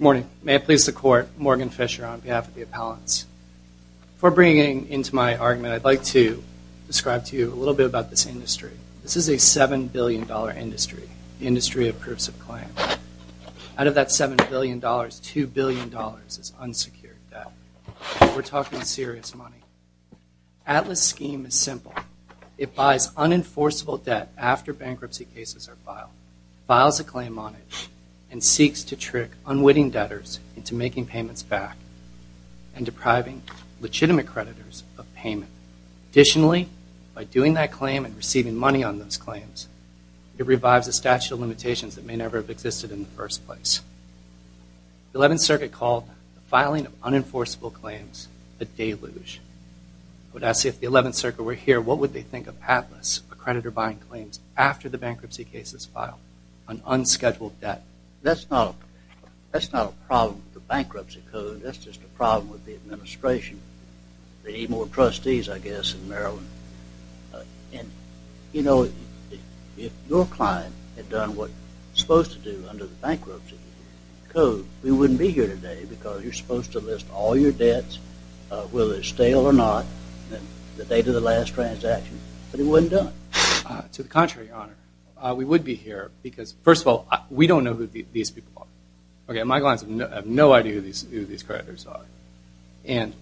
Morning. May it please the Court, Morgan Fisher on behalf of the appellants. Before bringing it into my argument, I'd like to describe to you a little bit about this industry. This is a $7 billion industry, the industry of proofs of claim. Out of that $7 billion, $2 billion is unsecured debt. We're talking serious money. Atlas' scheme is simple. It buys unenforceable debt after bankruptcy cases are filed, files a claim on it, and seeks to trick unwitting debtors into making payments back and depriving legitimate creditors of payment. Additionally, by doing that claim and receiving money on those claims, it revives a statute of limitations that may never have existed in the first place. The 11th Circuit called the filing of unenforceable claims a deluge. I would ask if the 11th Circuit were here, what would they think of Atlas, a creditor buying claims after the bankruptcy cases file on unscheduled debt? That's not a problem with the bankruptcy code. That's just a problem with the administration. They need more trustees, I guess, in Maryland. And, you know, if your client had done what you're supposed to do under the bankruptcy code, we wouldn't be here today because you're supposed to list all your debts, whether they're stale or not, the date of the last transaction, but it wasn't done. To the contrary, Your Honor. We would be here because, first of all, we don't know who these people are. Okay, my clients have no idea who these creditors are. And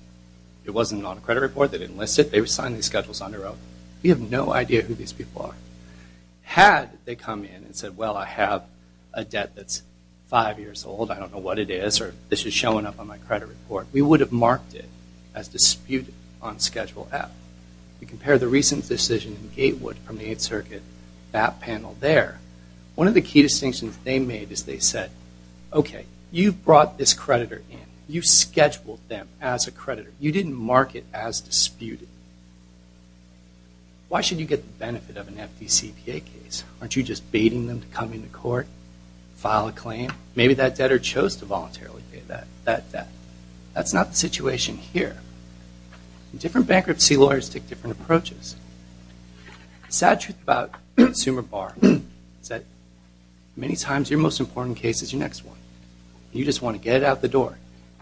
it wasn't on a credit report. They didn't list it. They signed these schedules on their own. We have no idea who these people are. Had they come in and said, well, I have a debt that's five years old, I don't know what it is, or this is showing up on my credit report, we would have marked it as disputed on Schedule F. You compare the recent decision in Gatewood from the Eighth Circuit, that panel there, one of the key distinctions they made is they said, okay, you brought this creditor in. You scheduled them as a creditor. You didn't mark it as disputed. Why should you get the benefit of an FDCPA case? Aren't you just baiting them to come into court, file a claim? Maybe that debtor chose to voluntarily pay that debt. That's not the situation here. Different bankruptcy lawyers take different approaches. The sad truth about consumer bar is that many times your most important case is your next one. You just want to get it out the door.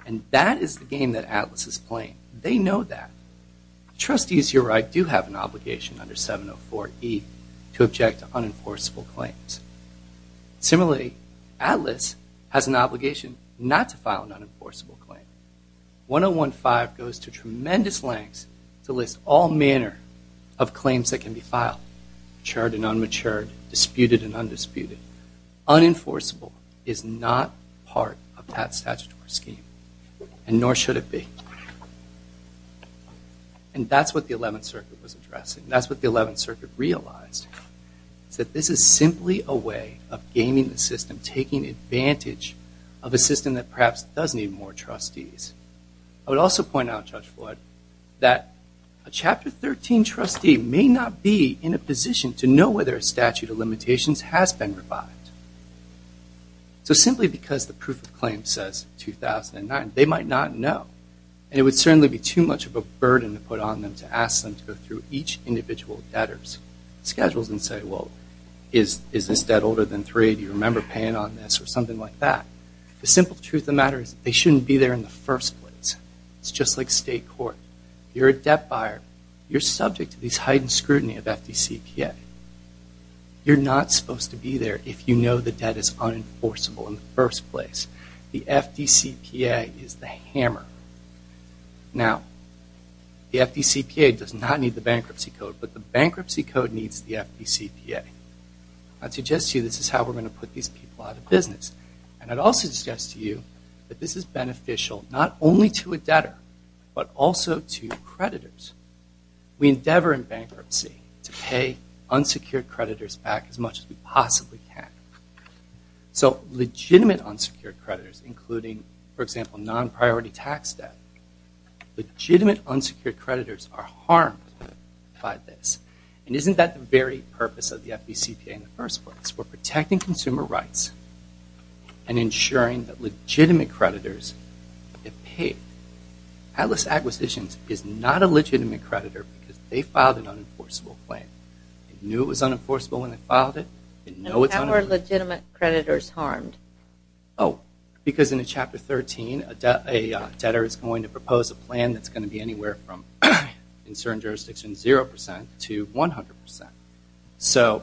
And that is the game that Atlas is playing. They know that. Trustees, you're right, do have an obligation under 704E to object to unenforceable claims. Similarly, Atlas has an obligation not to file an unenforceable claim. 101-5 goes to tremendous lengths to list all manner of claims that can be filed, matured and unmatured, disputed and undisputed. Unenforceable is not part of that statutory scheme, and nor should it be. And that's what the Eleventh Circuit was addressing. That's what the Eleventh Circuit realized. That this is simply a way of gaming the system, taking advantage of a system that perhaps does need more trustees. I would also point out, Judge Floyd, that a Chapter 13 trustee may not be in a position to know whether a statute of limitations has been revived. So simply because the proof of claim says 2009, they might not know. And it would certainly be too much of a burden to put on them to ask them to go through each individual debtor's schedules and say, well, is this debt older than three? Do you remember paying on this? Or something like that. The simple truth of the matter is they shouldn't be there in the first place. It's just like state court. You're a debt buyer. You're subject to these heightened scrutiny of FDCPA. You're not supposed to be there if you know the debt is unenforceable in the first place. The FDCPA is the hammer. Now, the FDCPA does not need the Bankruptcy Code, but the Bankruptcy Code needs the FDCPA. I'd suggest to you this is how we're going to put these people out of business. And I'd also suggest to you that this is beneficial not only to a debtor, but also to creditors. We endeavor in bankruptcy to pay unsecured creditors back as much as we possibly can. So legitimate unsecured creditors, including, for example, non-priority tax debt, legitimate unsecured creditors are harmed by this. And isn't that the very purpose of the FDCPA in the first place? It's for protecting consumer rights and ensuring that legitimate creditors get paid. Atlas Acquisitions is not a legitimate creditor because they filed an unenforceable claim. They knew it was unenforceable when they filed it. How are legitimate creditors harmed? Oh, because in Chapter 13, a debtor is going to propose a plan that's going to be anywhere from, in certain jurisdictions, 0% to 100%. So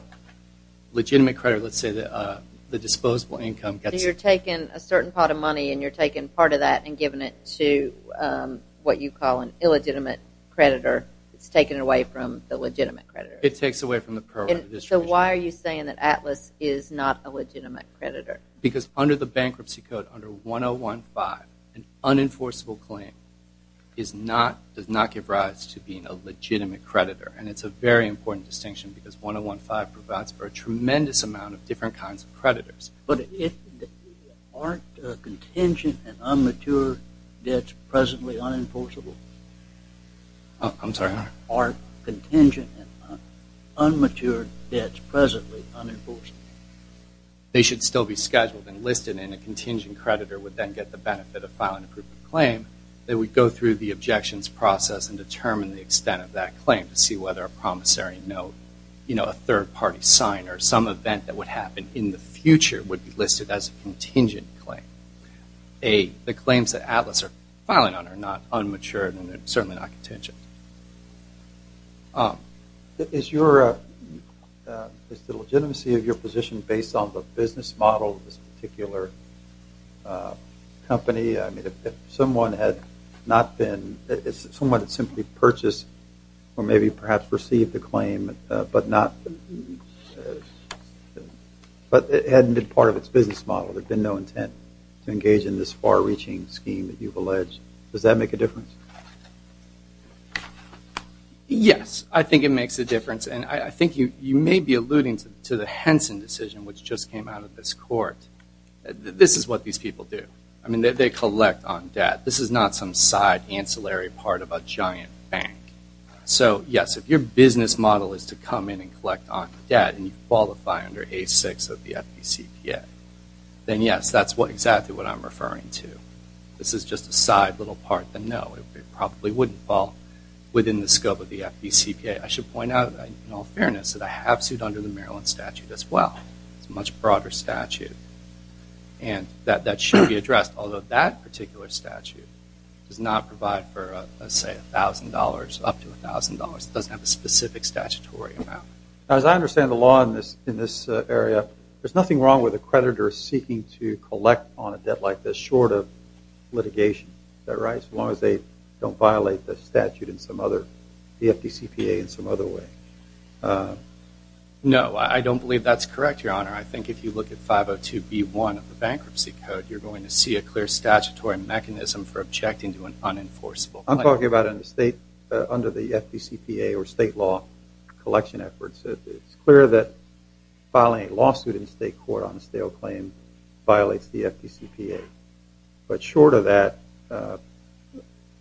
legitimate creditors, let's say the disposable income gets... So you're taking a certain pot of money and you're taking part of that and giving it to what you call an illegitimate creditor. It's taken away from the legitimate creditor. It takes away from the program distribution. So why are you saying that Atlas is not a legitimate creditor? Because under the Bankruptcy Code, under 101.5, an unenforceable claim does not give rise to being a legitimate creditor. And it's a very important distinction because 101.5 provides for a tremendous amount of different kinds of creditors. But aren't contingent and unmatured debts presently unenforceable? I'm sorry? Aren't contingent and unmatured debts presently unenforceable? They should still be scheduled and listed, and a contingent creditor would then get the benefit of filing a proof of claim. They would go through the objections process and determine the extent of that claim to see whether a promissory note, a third-party sign, or some event that would happen in the future would be listed as a contingent claim. The claims that Atlas are filing on are not unmatured, and they're certainly not contingent. Is the legitimacy of your position based on the business model of this particular company? If someone had simply purchased or maybe perhaps received the claim, but it hadn't been part of its business model, there'd been no intent to engage in this far-reaching scheme that you've alleged, does that make a difference? Yes, I think it makes a difference. And I think you may be alluding to the Henson decision, which just came out of this court. This is what these people do. I mean, they collect on debt. This is not some side ancillary part of a giant bank. So, yes, if your business model is to come in and collect on debt and you qualify under A6 of the FDCPA, then, yes, that's exactly what I'm referring to. This is just a side little part. No, it probably wouldn't fall within the scope of the FDCPA. I should point out, in all fairness, that I have sued under the Maryland statute as well. It's a much broader statute, and that should be addressed, although that particular statute does not provide for, let's say, $1,000, up to $1,000. It doesn't have a specific statutory amount. As I understand the law in this area, there's nothing wrong with a creditor seeking to collect on a debt like this short of litigation, is that right, as long as they don't violate the statute in some other, the FDCPA in some other way? No, I don't believe that's correct, Your Honor. I think if you look at 502B1 of the Bankruptcy Code, you're going to see a clear statutory mechanism for objecting to an unenforceable claim. I'm talking about under the FDCPA or state law collection efforts. It's clear that filing a lawsuit in state court on a stale claim violates the FDCPA. But short of that,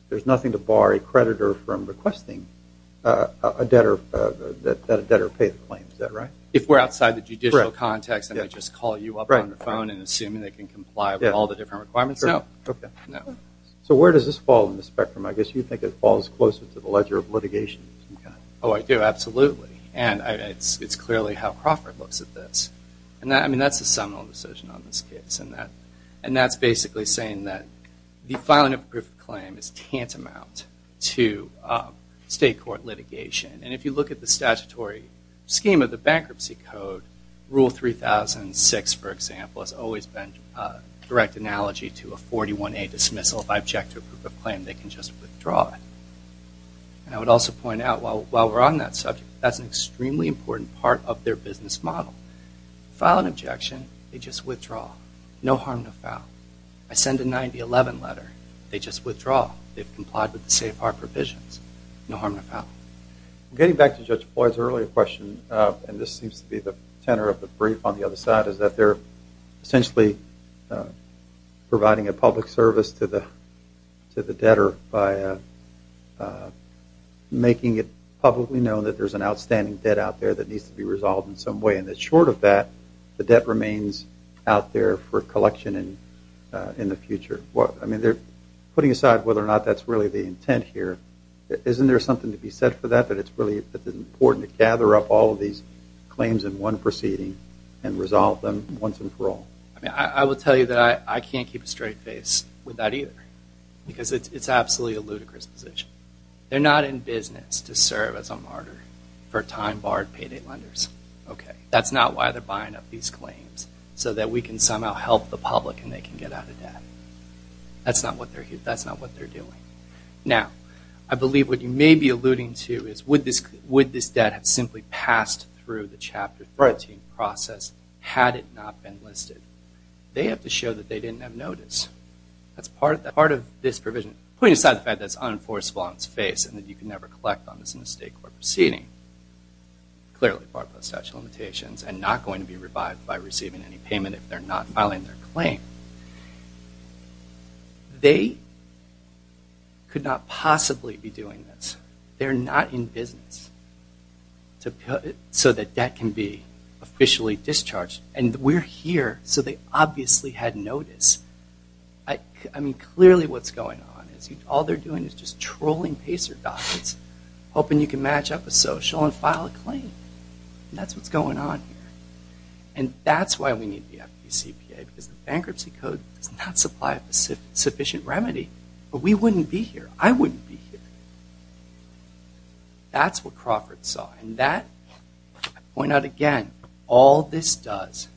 there's nothing to bar a creditor from requesting that a debtor pay the claim. Is that right? If we're outside the judicial context and they just call you up on the phone and assume they can comply with all the different requirements, no. So where does this fall in the spectrum? I guess you think it falls closer to the ledger of litigation. Oh, I do, absolutely. And it's clearly how Crawford looks at this. I mean, that's a seminal decision on this case. And that's basically saying that the filing of a proof of claim is tantamount to state court litigation. And if you look at the statutory scheme of the Bankruptcy Code, Rule 3006, for example, has always been a direct analogy to a 41A dismissal. If I object to a proof of claim, they can just withdraw it. And I would also point out, while we're on that subject, that's an extremely important part of their business model. File an objection, they just withdraw. No harm, no foul. I send a 9011 letter, they just withdraw. They've complied with the safe-car provisions. No harm, no foul. Getting back to Judge Floyd's earlier question, and this seems to be the tenor of the brief on the other side, is that they're essentially providing a public service to the debtor by making it publicly known that there's an outstanding debt out there that needs to be resolved in some way and that short of that, the debt remains out there for collection in the future. Putting aside whether or not that's really the intent here, isn't there something to be said for that, that it's important to gather up all of these claims in one proceeding and resolve them once and for all? I will tell you that I can't keep a straight face with that either because it's absolutely a ludicrous position. They're not in business to serve as a martyr for time-barred payday lenders. That's not why they're buying up these claims, so that we can somehow help the public and they can get out of debt. That's not what they're doing. Now, I believe what you may be alluding to is, would this debt have simply passed through the Chapter 13 process had it not been listed? They have to show that they didn't have notice. That's part of this provision. Putting aside the fact that it's unenforceable on its face and that you can never collect on this in a state court proceeding, clearly barred by statute of limitations, and not going to be revived by receiving any payment if they're not filing their claim, they could not possibly be doing this. They're not in business so that debt can be officially discharged. And we're here, so they obviously had notice. I mean, clearly what's going on is all they're doing is just trolling pacer dots, hoping you can match up a social and file a claim. That's what's going on here. And that's why we need the FDCPA, because the bankruptcy code does not supply a sufficient remedy, but we wouldn't be here. I wouldn't be here. That's what Crawford saw, and that, I point out again, all this does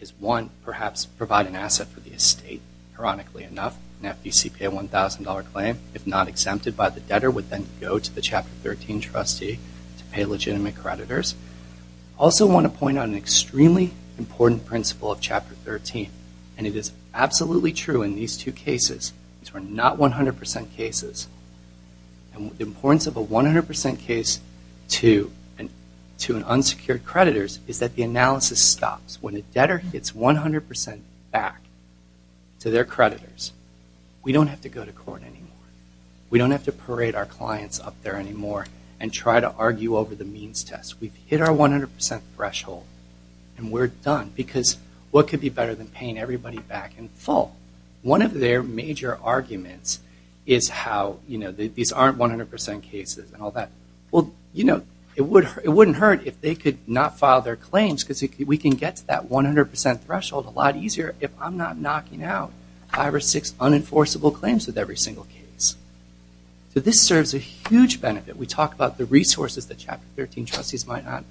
is, one, perhaps provide an asset for the estate, ironically enough, an FDCPA $1,000 claim, if not exempted by the debtor, would then go to the Chapter 13 trustee to pay legitimate creditors. I also want to point out an extremely important principle of Chapter 13, and it is absolutely true in these two cases. These were not 100% cases. And the importance of a 100% case to an unsecured creditor is that the analysis stops. When a debtor gets 100% back to their creditors, we don't have to go to court anymore. We don't have to parade our clients up there anymore and try to argue over the means test. We've hit our 100% threshold, and we're done, because what could be better than paying everybody back in full? One of their major arguments is how, you know, these aren't 100% cases and all that. Well, you know, it wouldn't hurt if they could not file their claims because we can get to that 100% threshold a lot easier if I'm not knocking out five or six unenforceable claims with every single case. So this serves a huge benefit. We talk about the resources that Chapter 13 trustees might have.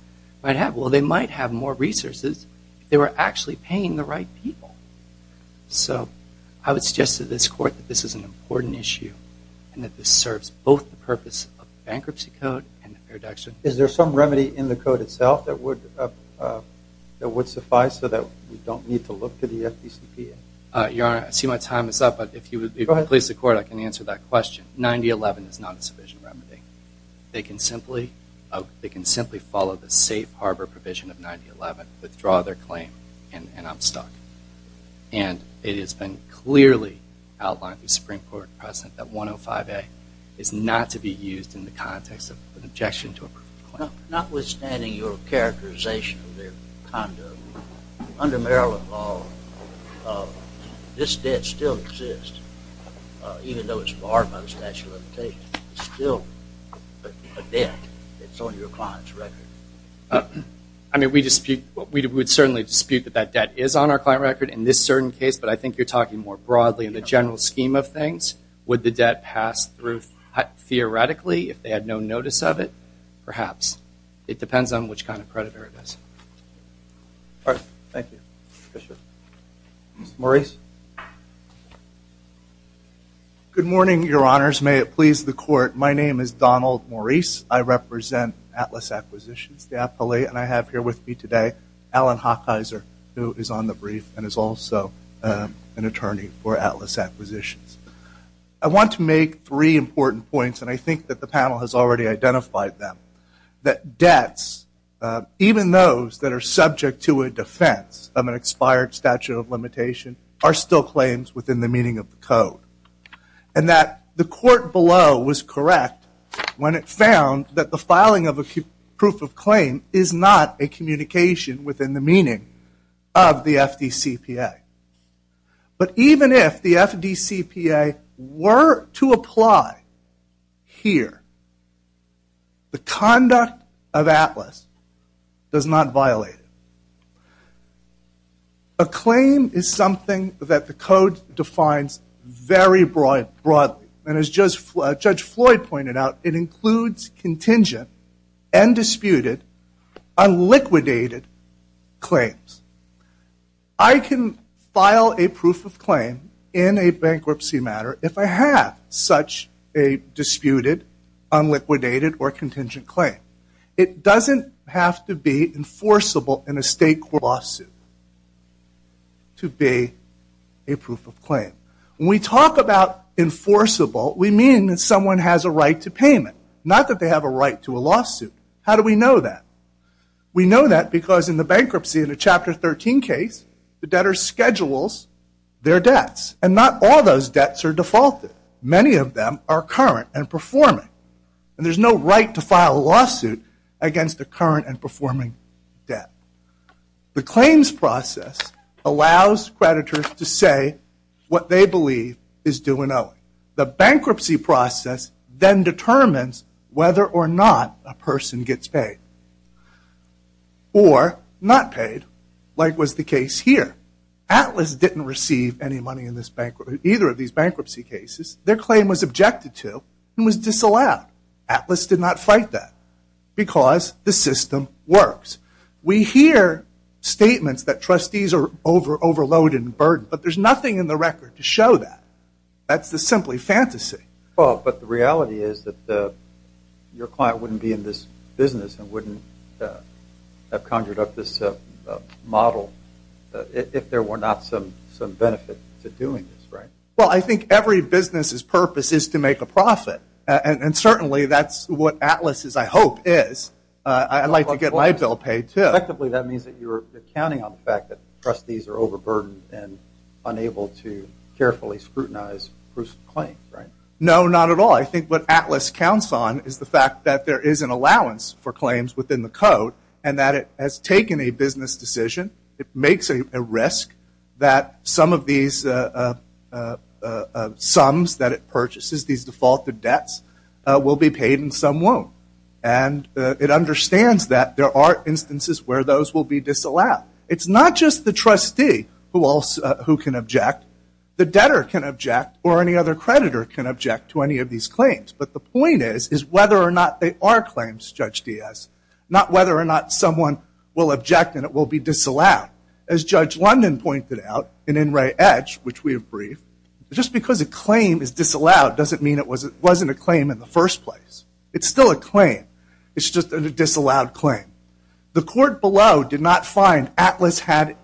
Well, they might have more resources if they were actually paying the right people. So I would suggest to this court that this is an important issue and that this serves both the purpose of the Bankruptcy Code and the Fair Deduction. Is there some remedy in the code itself that would suffice so that we don't need to look to the FDCPA? Your Honor, I see my time is up, but if you could please the court, I can answer that question. 9011 is not a subvision remedy. They can simply follow the safe harbor provision of 9011, withdraw their claim, and I'm stuck. And it has been clearly outlined through Supreme Court precedent that 105A is not to be used in the context of an objection to a proof of claim. Notwithstanding your characterization of their condo, under Maryland law, this debt still exists, even though it's barred by the statute of limitations. It's still a debt that's on your client's record. I mean, we would certainly dispute that that debt is on our client record in this certain case, but I think you're talking more broadly in the general scheme of things. Would the debt pass through theoretically if they had no notice of it? Perhaps. It depends on which kind of creditor it is. All right. Thank you. Mr. Maurice? Good morning, Your Honors. May it please the court, my name is Donald Maurice. I represent Atlas Acquisitions, the appellee, and I have here with me today Alan Hochheiser, who is on the brief and is also an attorney for Atlas Acquisitions. I want to make three important points, and I think that the panel has already identified them. That debts, even those that are subject to a defense of an expired statute of limitation, are still claims within the meaning of the code. And that the court below was correct when it found that the filing of a proof of claim is not a communication within the meaning of the FDCPA. But even if the FDCPA were to apply here, the conduct of Atlas does not violate it. A claim is something that the code defines very broadly. And as Judge Floyd pointed out, it includes contingent and disputed, unliquidated claims. I can file a proof of claim in a bankruptcy matter if I have such a disputed, unliquidated, or contingent claim. It doesn't have to be enforceable in a state lawsuit to be a proof of claim. When we talk about enforceable, we mean that someone has a right to payment, not that they have a right to a lawsuit. How do we know that? We know that because in the bankruptcy, in the Chapter 13 case, the debtor schedules their debts. And not all those debts are defaulted. Many of them are current and performing. And there's no right to file a lawsuit against a current and performing debt. The claims process allows creditors to say what they believe is due and owing. The bankruptcy process then determines whether or not a person gets paid. Or not paid, like was the case here. Atlas didn't receive any money in either of these bankruptcy cases. Their claim was objected to and was disallowed. Atlas did not fight that because the system works. We hear statements that trustees are overloaded and burdened, but there's nothing in the record to show that. That's just simply fantasy. But the reality is that your client wouldn't be in this business and wouldn't have conjured up this model if there were not some benefit to doing this, right? Well, I think every business's purpose is to make a profit. And certainly that's what Atlas's, I hope, is. I'd like to get my bill paid, too. Effectively, that means that you're counting on the fact that trustees are overburdened and unable to carefully scrutinize crucial claims, right? No, not at all. I think what Atlas counts on is the fact that there is an allowance for claims within the code and that it has taken a business decision. It makes a risk that some of these sums that it purchases, these defaulted debts, will be paid and some won't. And it understands that there are instances where those will be disallowed. It's not just the trustee who can object. The debtor can object or any other creditor can object to any of these claims. But the point is whether or not they are claims, Judge Diaz, not whether or not someone will object and it will be disallowed. As Judge London pointed out in In Re Edge, which we have briefed, just because a claim is disallowed doesn't mean it wasn't a claim in the first place. It's still a claim. It's just a disallowed claim. The court below did not find Atlas had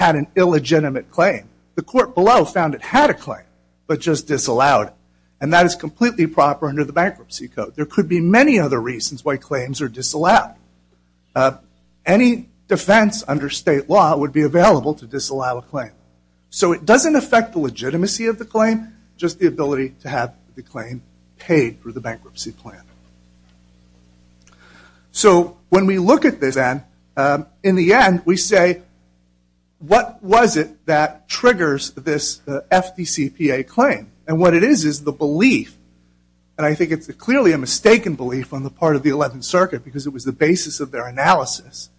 an illegitimate claim. The court below found it had a claim but just disallowed it. And that is completely proper under the Bankruptcy Code. There could be many other reasons why claims are disallowed. Any defense under state law would be available to disallow a claim. So it doesn't affect the legitimacy of the claim, just the ability to have the claim paid for the bankruptcy plan. So when we look at this then, in the end we say, what was it that triggers this FDCPA claim? And what it is is the belief, and I think it's clearly a mistaken belief on the part of the 11th Circuit because it was the basis of their analysis,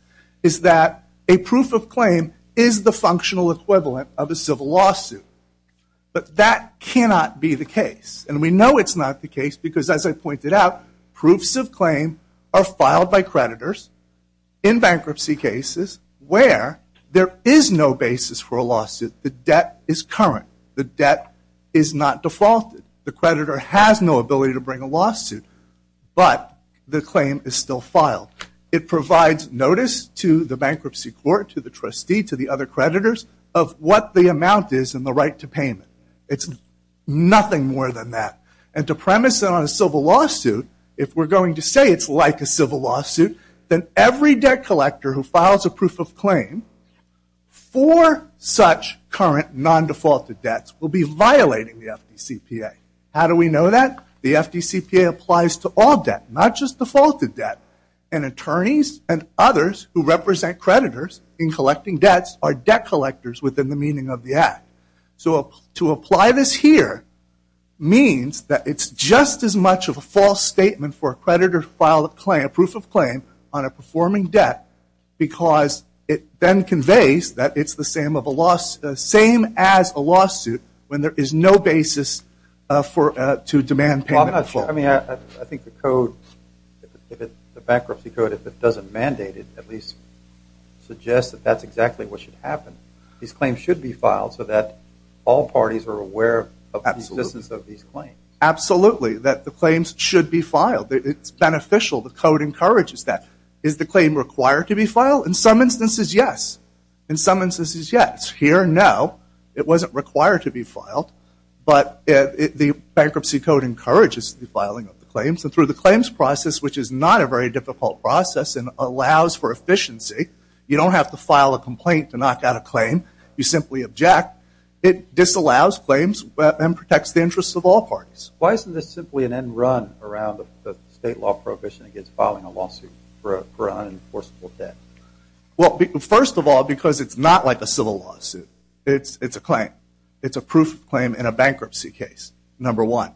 is that a proof of claim is the functional equivalent of a civil lawsuit. But that cannot be the case. And we know it's not the case because, as I pointed out, proofs of claim are filed by creditors in bankruptcy cases where there is no basis for a lawsuit. The debt is current. The debt is not defaulted. The creditor has no ability to bring a lawsuit, but the claim is still filed. It provides notice to the bankruptcy court, to the trustee, to the other creditors of what the amount is and the right to payment. It's nothing more than that. And to premise that on a civil lawsuit, if we're going to say it's like a civil lawsuit, then every debt collector who files a proof of claim for such current non-defaulted debts will be violating the FDCPA. How do we know that? The FDCPA applies to all debt, not just defaulted debt. And attorneys and others who represent creditors in collecting debts are debt collectors within the meaning of the Act. So to apply this here means that it's just as much of a false statement for a creditor to file a proof of claim on a performing debt because it then conveys that it's the same as a lawsuit when there is no basis to demand payment default. I mean, I think the bankruptcy code, if it doesn't mandate it, at least suggests that that's exactly what should happen. These claims should be filed so that all parties are aware of the existence of these claims. Absolutely, that the claims should be filed. It's beneficial. The code encourages that. Is the claim required to be filed? In some instances, yes. Here, no. It wasn't required to be filed. But the bankruptcy code encourages the filing of the claims. And through the claims process, which is not a very difficult process and allows for efficiency, you don't have to file a complaint to knock out a claim. You simply object. It disallows claims and protects the interests of all parties. Why isn't this simply an end run around the state law prohibition against filing a lawsuit for unenforceable debt? Well, first of all, because it's not like a civil lawsuit. It's a claim. It's a proof of claim in a bankruptcy case, number one.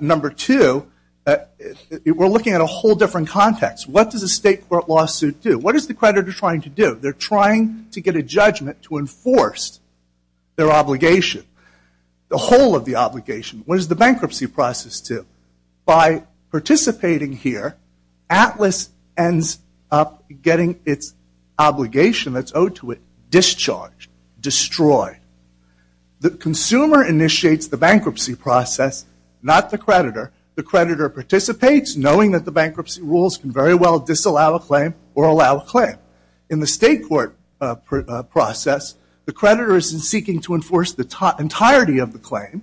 Number two, we're looking at a whole different context. What does a state court lawsuit do? What is the creditor trying to do? They're trying to get a judgment to enforce their obligation. The whole of the obligation. What does the bankruptcy process do? By participating here, Atlas ends up getting its obligation that's owed to it discharged, destroyed. The consumer initiates the bankruptcy process, not the creditor. The creditor participates, knowing that the bankruptcy rules can very well disallow a claim or allow a claim. In the state court process, the creditor is seeking to enforce the entirety of the claim,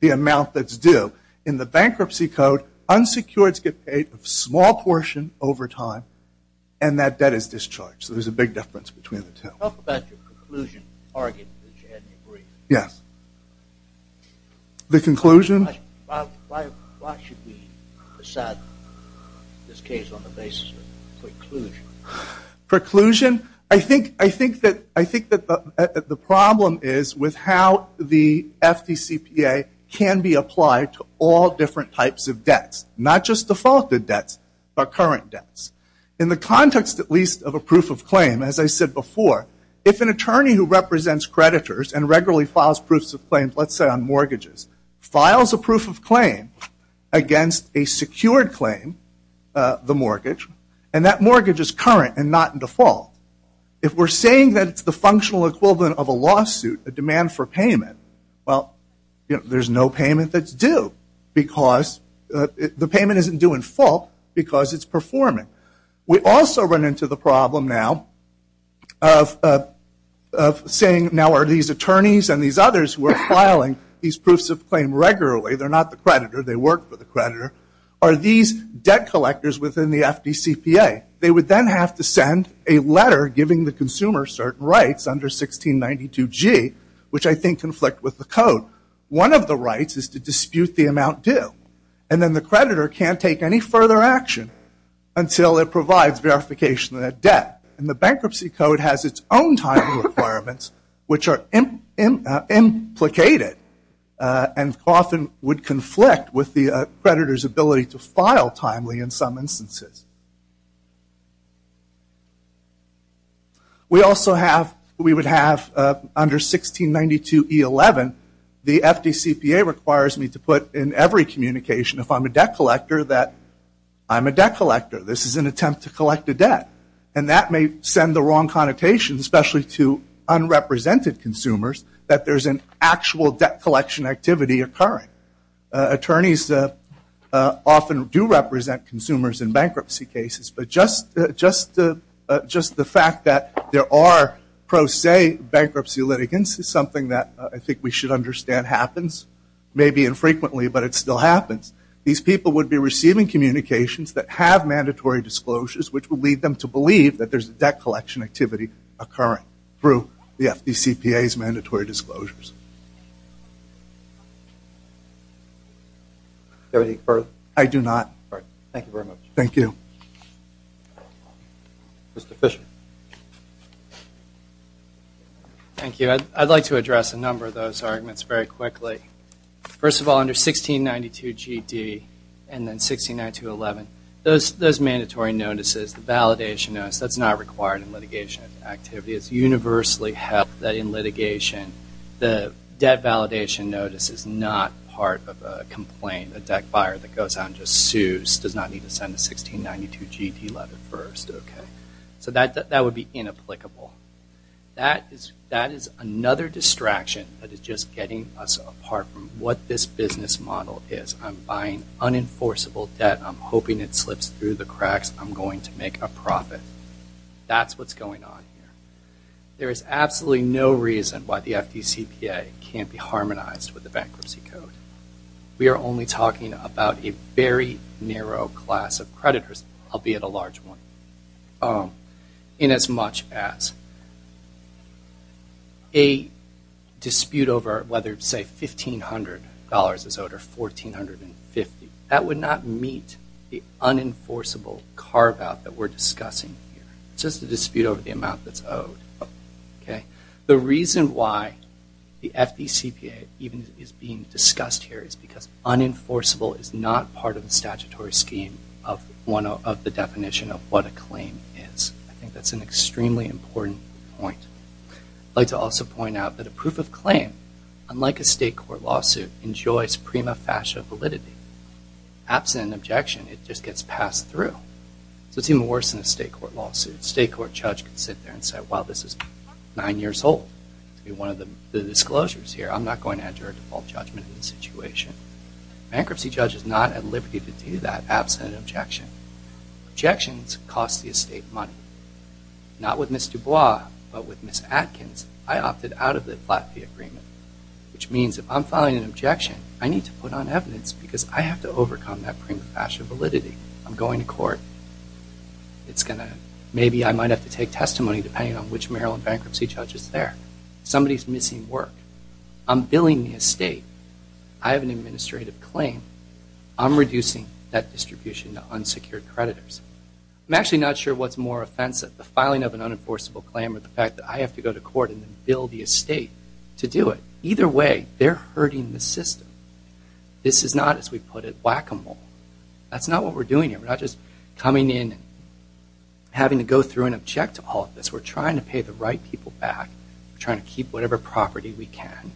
the amount that's due. In the bankruptcy code, unsecureds get paid a small portion over time, and that debt is discharged. So there's a big difference between the two. Talk about your conclusion argument, if you hadn't agreed. Yes. The conclusion? Why should we decide this case on the basis of preclusion? Preclusion? I think that the problem is with how the FDCPA can be applied to all different types of debts, not just defaulted debts, but current debts. In the context, at least, of a proof of claim, as I said before, if an attorney who represents creditors and regularly files proofs of claims, let's say on mortgages, files a proof of claim against a secured claim, the mortgage, and that mortgage is current and not in default. If we're saying that it's the functional equivalent of a lawsuit, a demand for payment, well, there's no payment that's due because the payment isn't due in full because it's performing. We also run into the problem now of saying, now are these attorneys and these others who are filing these proofs of claim regularly, they're not the creditor, they work for the creditor, are these debt collectors within the FDCPA? They would then have to send a letter giving the consumer certain rights under 1692G, which I think conflict with the Code. One of the rights is to dispute the amount due, and then the creditor can't take any further action until it provides verification of that debt. And the Bankruptcy Code has its own time requirements, which are implicated and often would conflict with the creditor's ability to file timely in some instances. We also have, we would have under 1692E11, the FDCPA requires me to put in every communication, if I'm a debt collector, that I'm a debt collector. This is an attempt to collect a debt. And that may send the wrong connotation, especially to unrepresented consumers, that there's an actual debt collection activity occurring. Attorneys often do represent consumers in bankruptcy cases, but just the fact that there are pro se bankruptcy litigants is something that I think we should understand happens, maybe infrequently, but it still happens. These people would be receiving communications that have mandatory disclosures, which would lead them to believe that there's a debt collection activity occurring through the FDCPA's mandatory disclosures. Do you have anything further? I do not. All right. Thank you very much. Thank you. Mr. Fisher. Thank you. I'd like to address a number of those arguments very quickly. First of all, under 1692GD and then 1692E11, those mandatory notices, the validation notice, that's not required in litigation activity. It's universally held that in litigation, the debt validation notice is not part of a complaint. A debt buyer that goes out and just sues does not need to send a 1692GD letter first. So that would be inapplicable. That is another distraction that is just getting us apart from what this business model is. I'm buying unenforceable debt. I'm hoping it slips through the cracks. I'm going to make a profit. That's what's going on here. There is absolutely no reason why the FDCPA can't be harmonized with the Bankruptcy Code. We are only talking about a very narrow class of creditors, albeit a large one, in as much as a dispute over whether, say, $1,500 is owed or $1,450. That would not meet the unenforceable carve-out that we're discussing here. It's just a dispute over the amount that's owed. The reason why the FDCPA even is being discussed here is because unenforceable is not part of the statutory scheme of the definition of what a claim is. I think that's an extremely important point. I'd like to also point out that a proof of claim, unlike a state court lawsuit, enjoys prima facie validity. Absent an objection, it just gets passed through. So it's even worse than a state court lawsuit. A state court judge can sit there and say, well, this is nine years old. To be one of the disclosures here, I'm not going to enter a default judgment in this situation. A bankruptcy judge is not at liberty to do that absent an objection. Objections cost the estate money. Not with Ms. Dubois, but with Ms. Atkins, I opted out of the flat fee agreement, which means if I'm filing an objection, I need to put on evidence because I have to overcome that prima facie validity. I'm going to court. Maybe I might have to take testimony, depending on which Maryland bankruptcy judge is there. Somebody's missing work. I'm billing the estate. I have an administrative claim. I'm reducing that distribution to unsecured creditors. I'm actually not sure what's more offensive, the filing of an unenforceable claim or the fact that I have to go to court and then bill the estate to do it. Either way, they're hurting the system. This is not, as we put it, whack-a-mole. That's not what we're doing here. We're not just coming in, having to go through and object to all of this. We're trying to pay the right people back. We're trying to keep whatever property we can.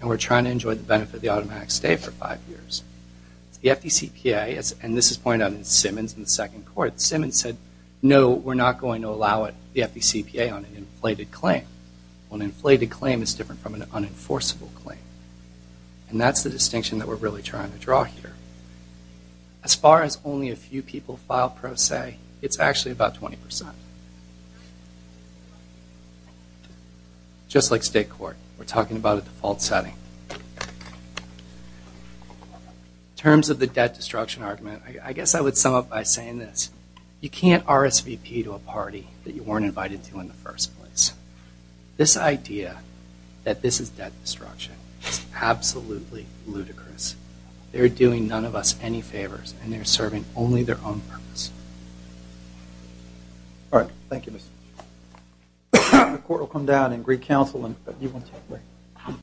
And we're trying to enjoy the benefit of the automatic stay for five years. The FDCPA, and this is pointed out in Simmons, in the second court, Simmons said, no, we're not going to allow it, the FDCPA, on an inflated claim. Well, an inflated claim is different from an unenforceable claim. And that's the distinction that we're really trying to draw here. As far as only a few people file pro se, it's actually about 20%. Just like state court, we're talking about a default setting. In terms of the debt destruction argument, I guess I would sum up by saying this. You can't RSVP to a party that you weren't invited to in the first place. This idea that this is debt destruction is absolutely ludicrous. They're doing none of us any favors, and they're serving only their own purpose. All right. Thank you, Mr. Chairman. The court will come down and recounsel.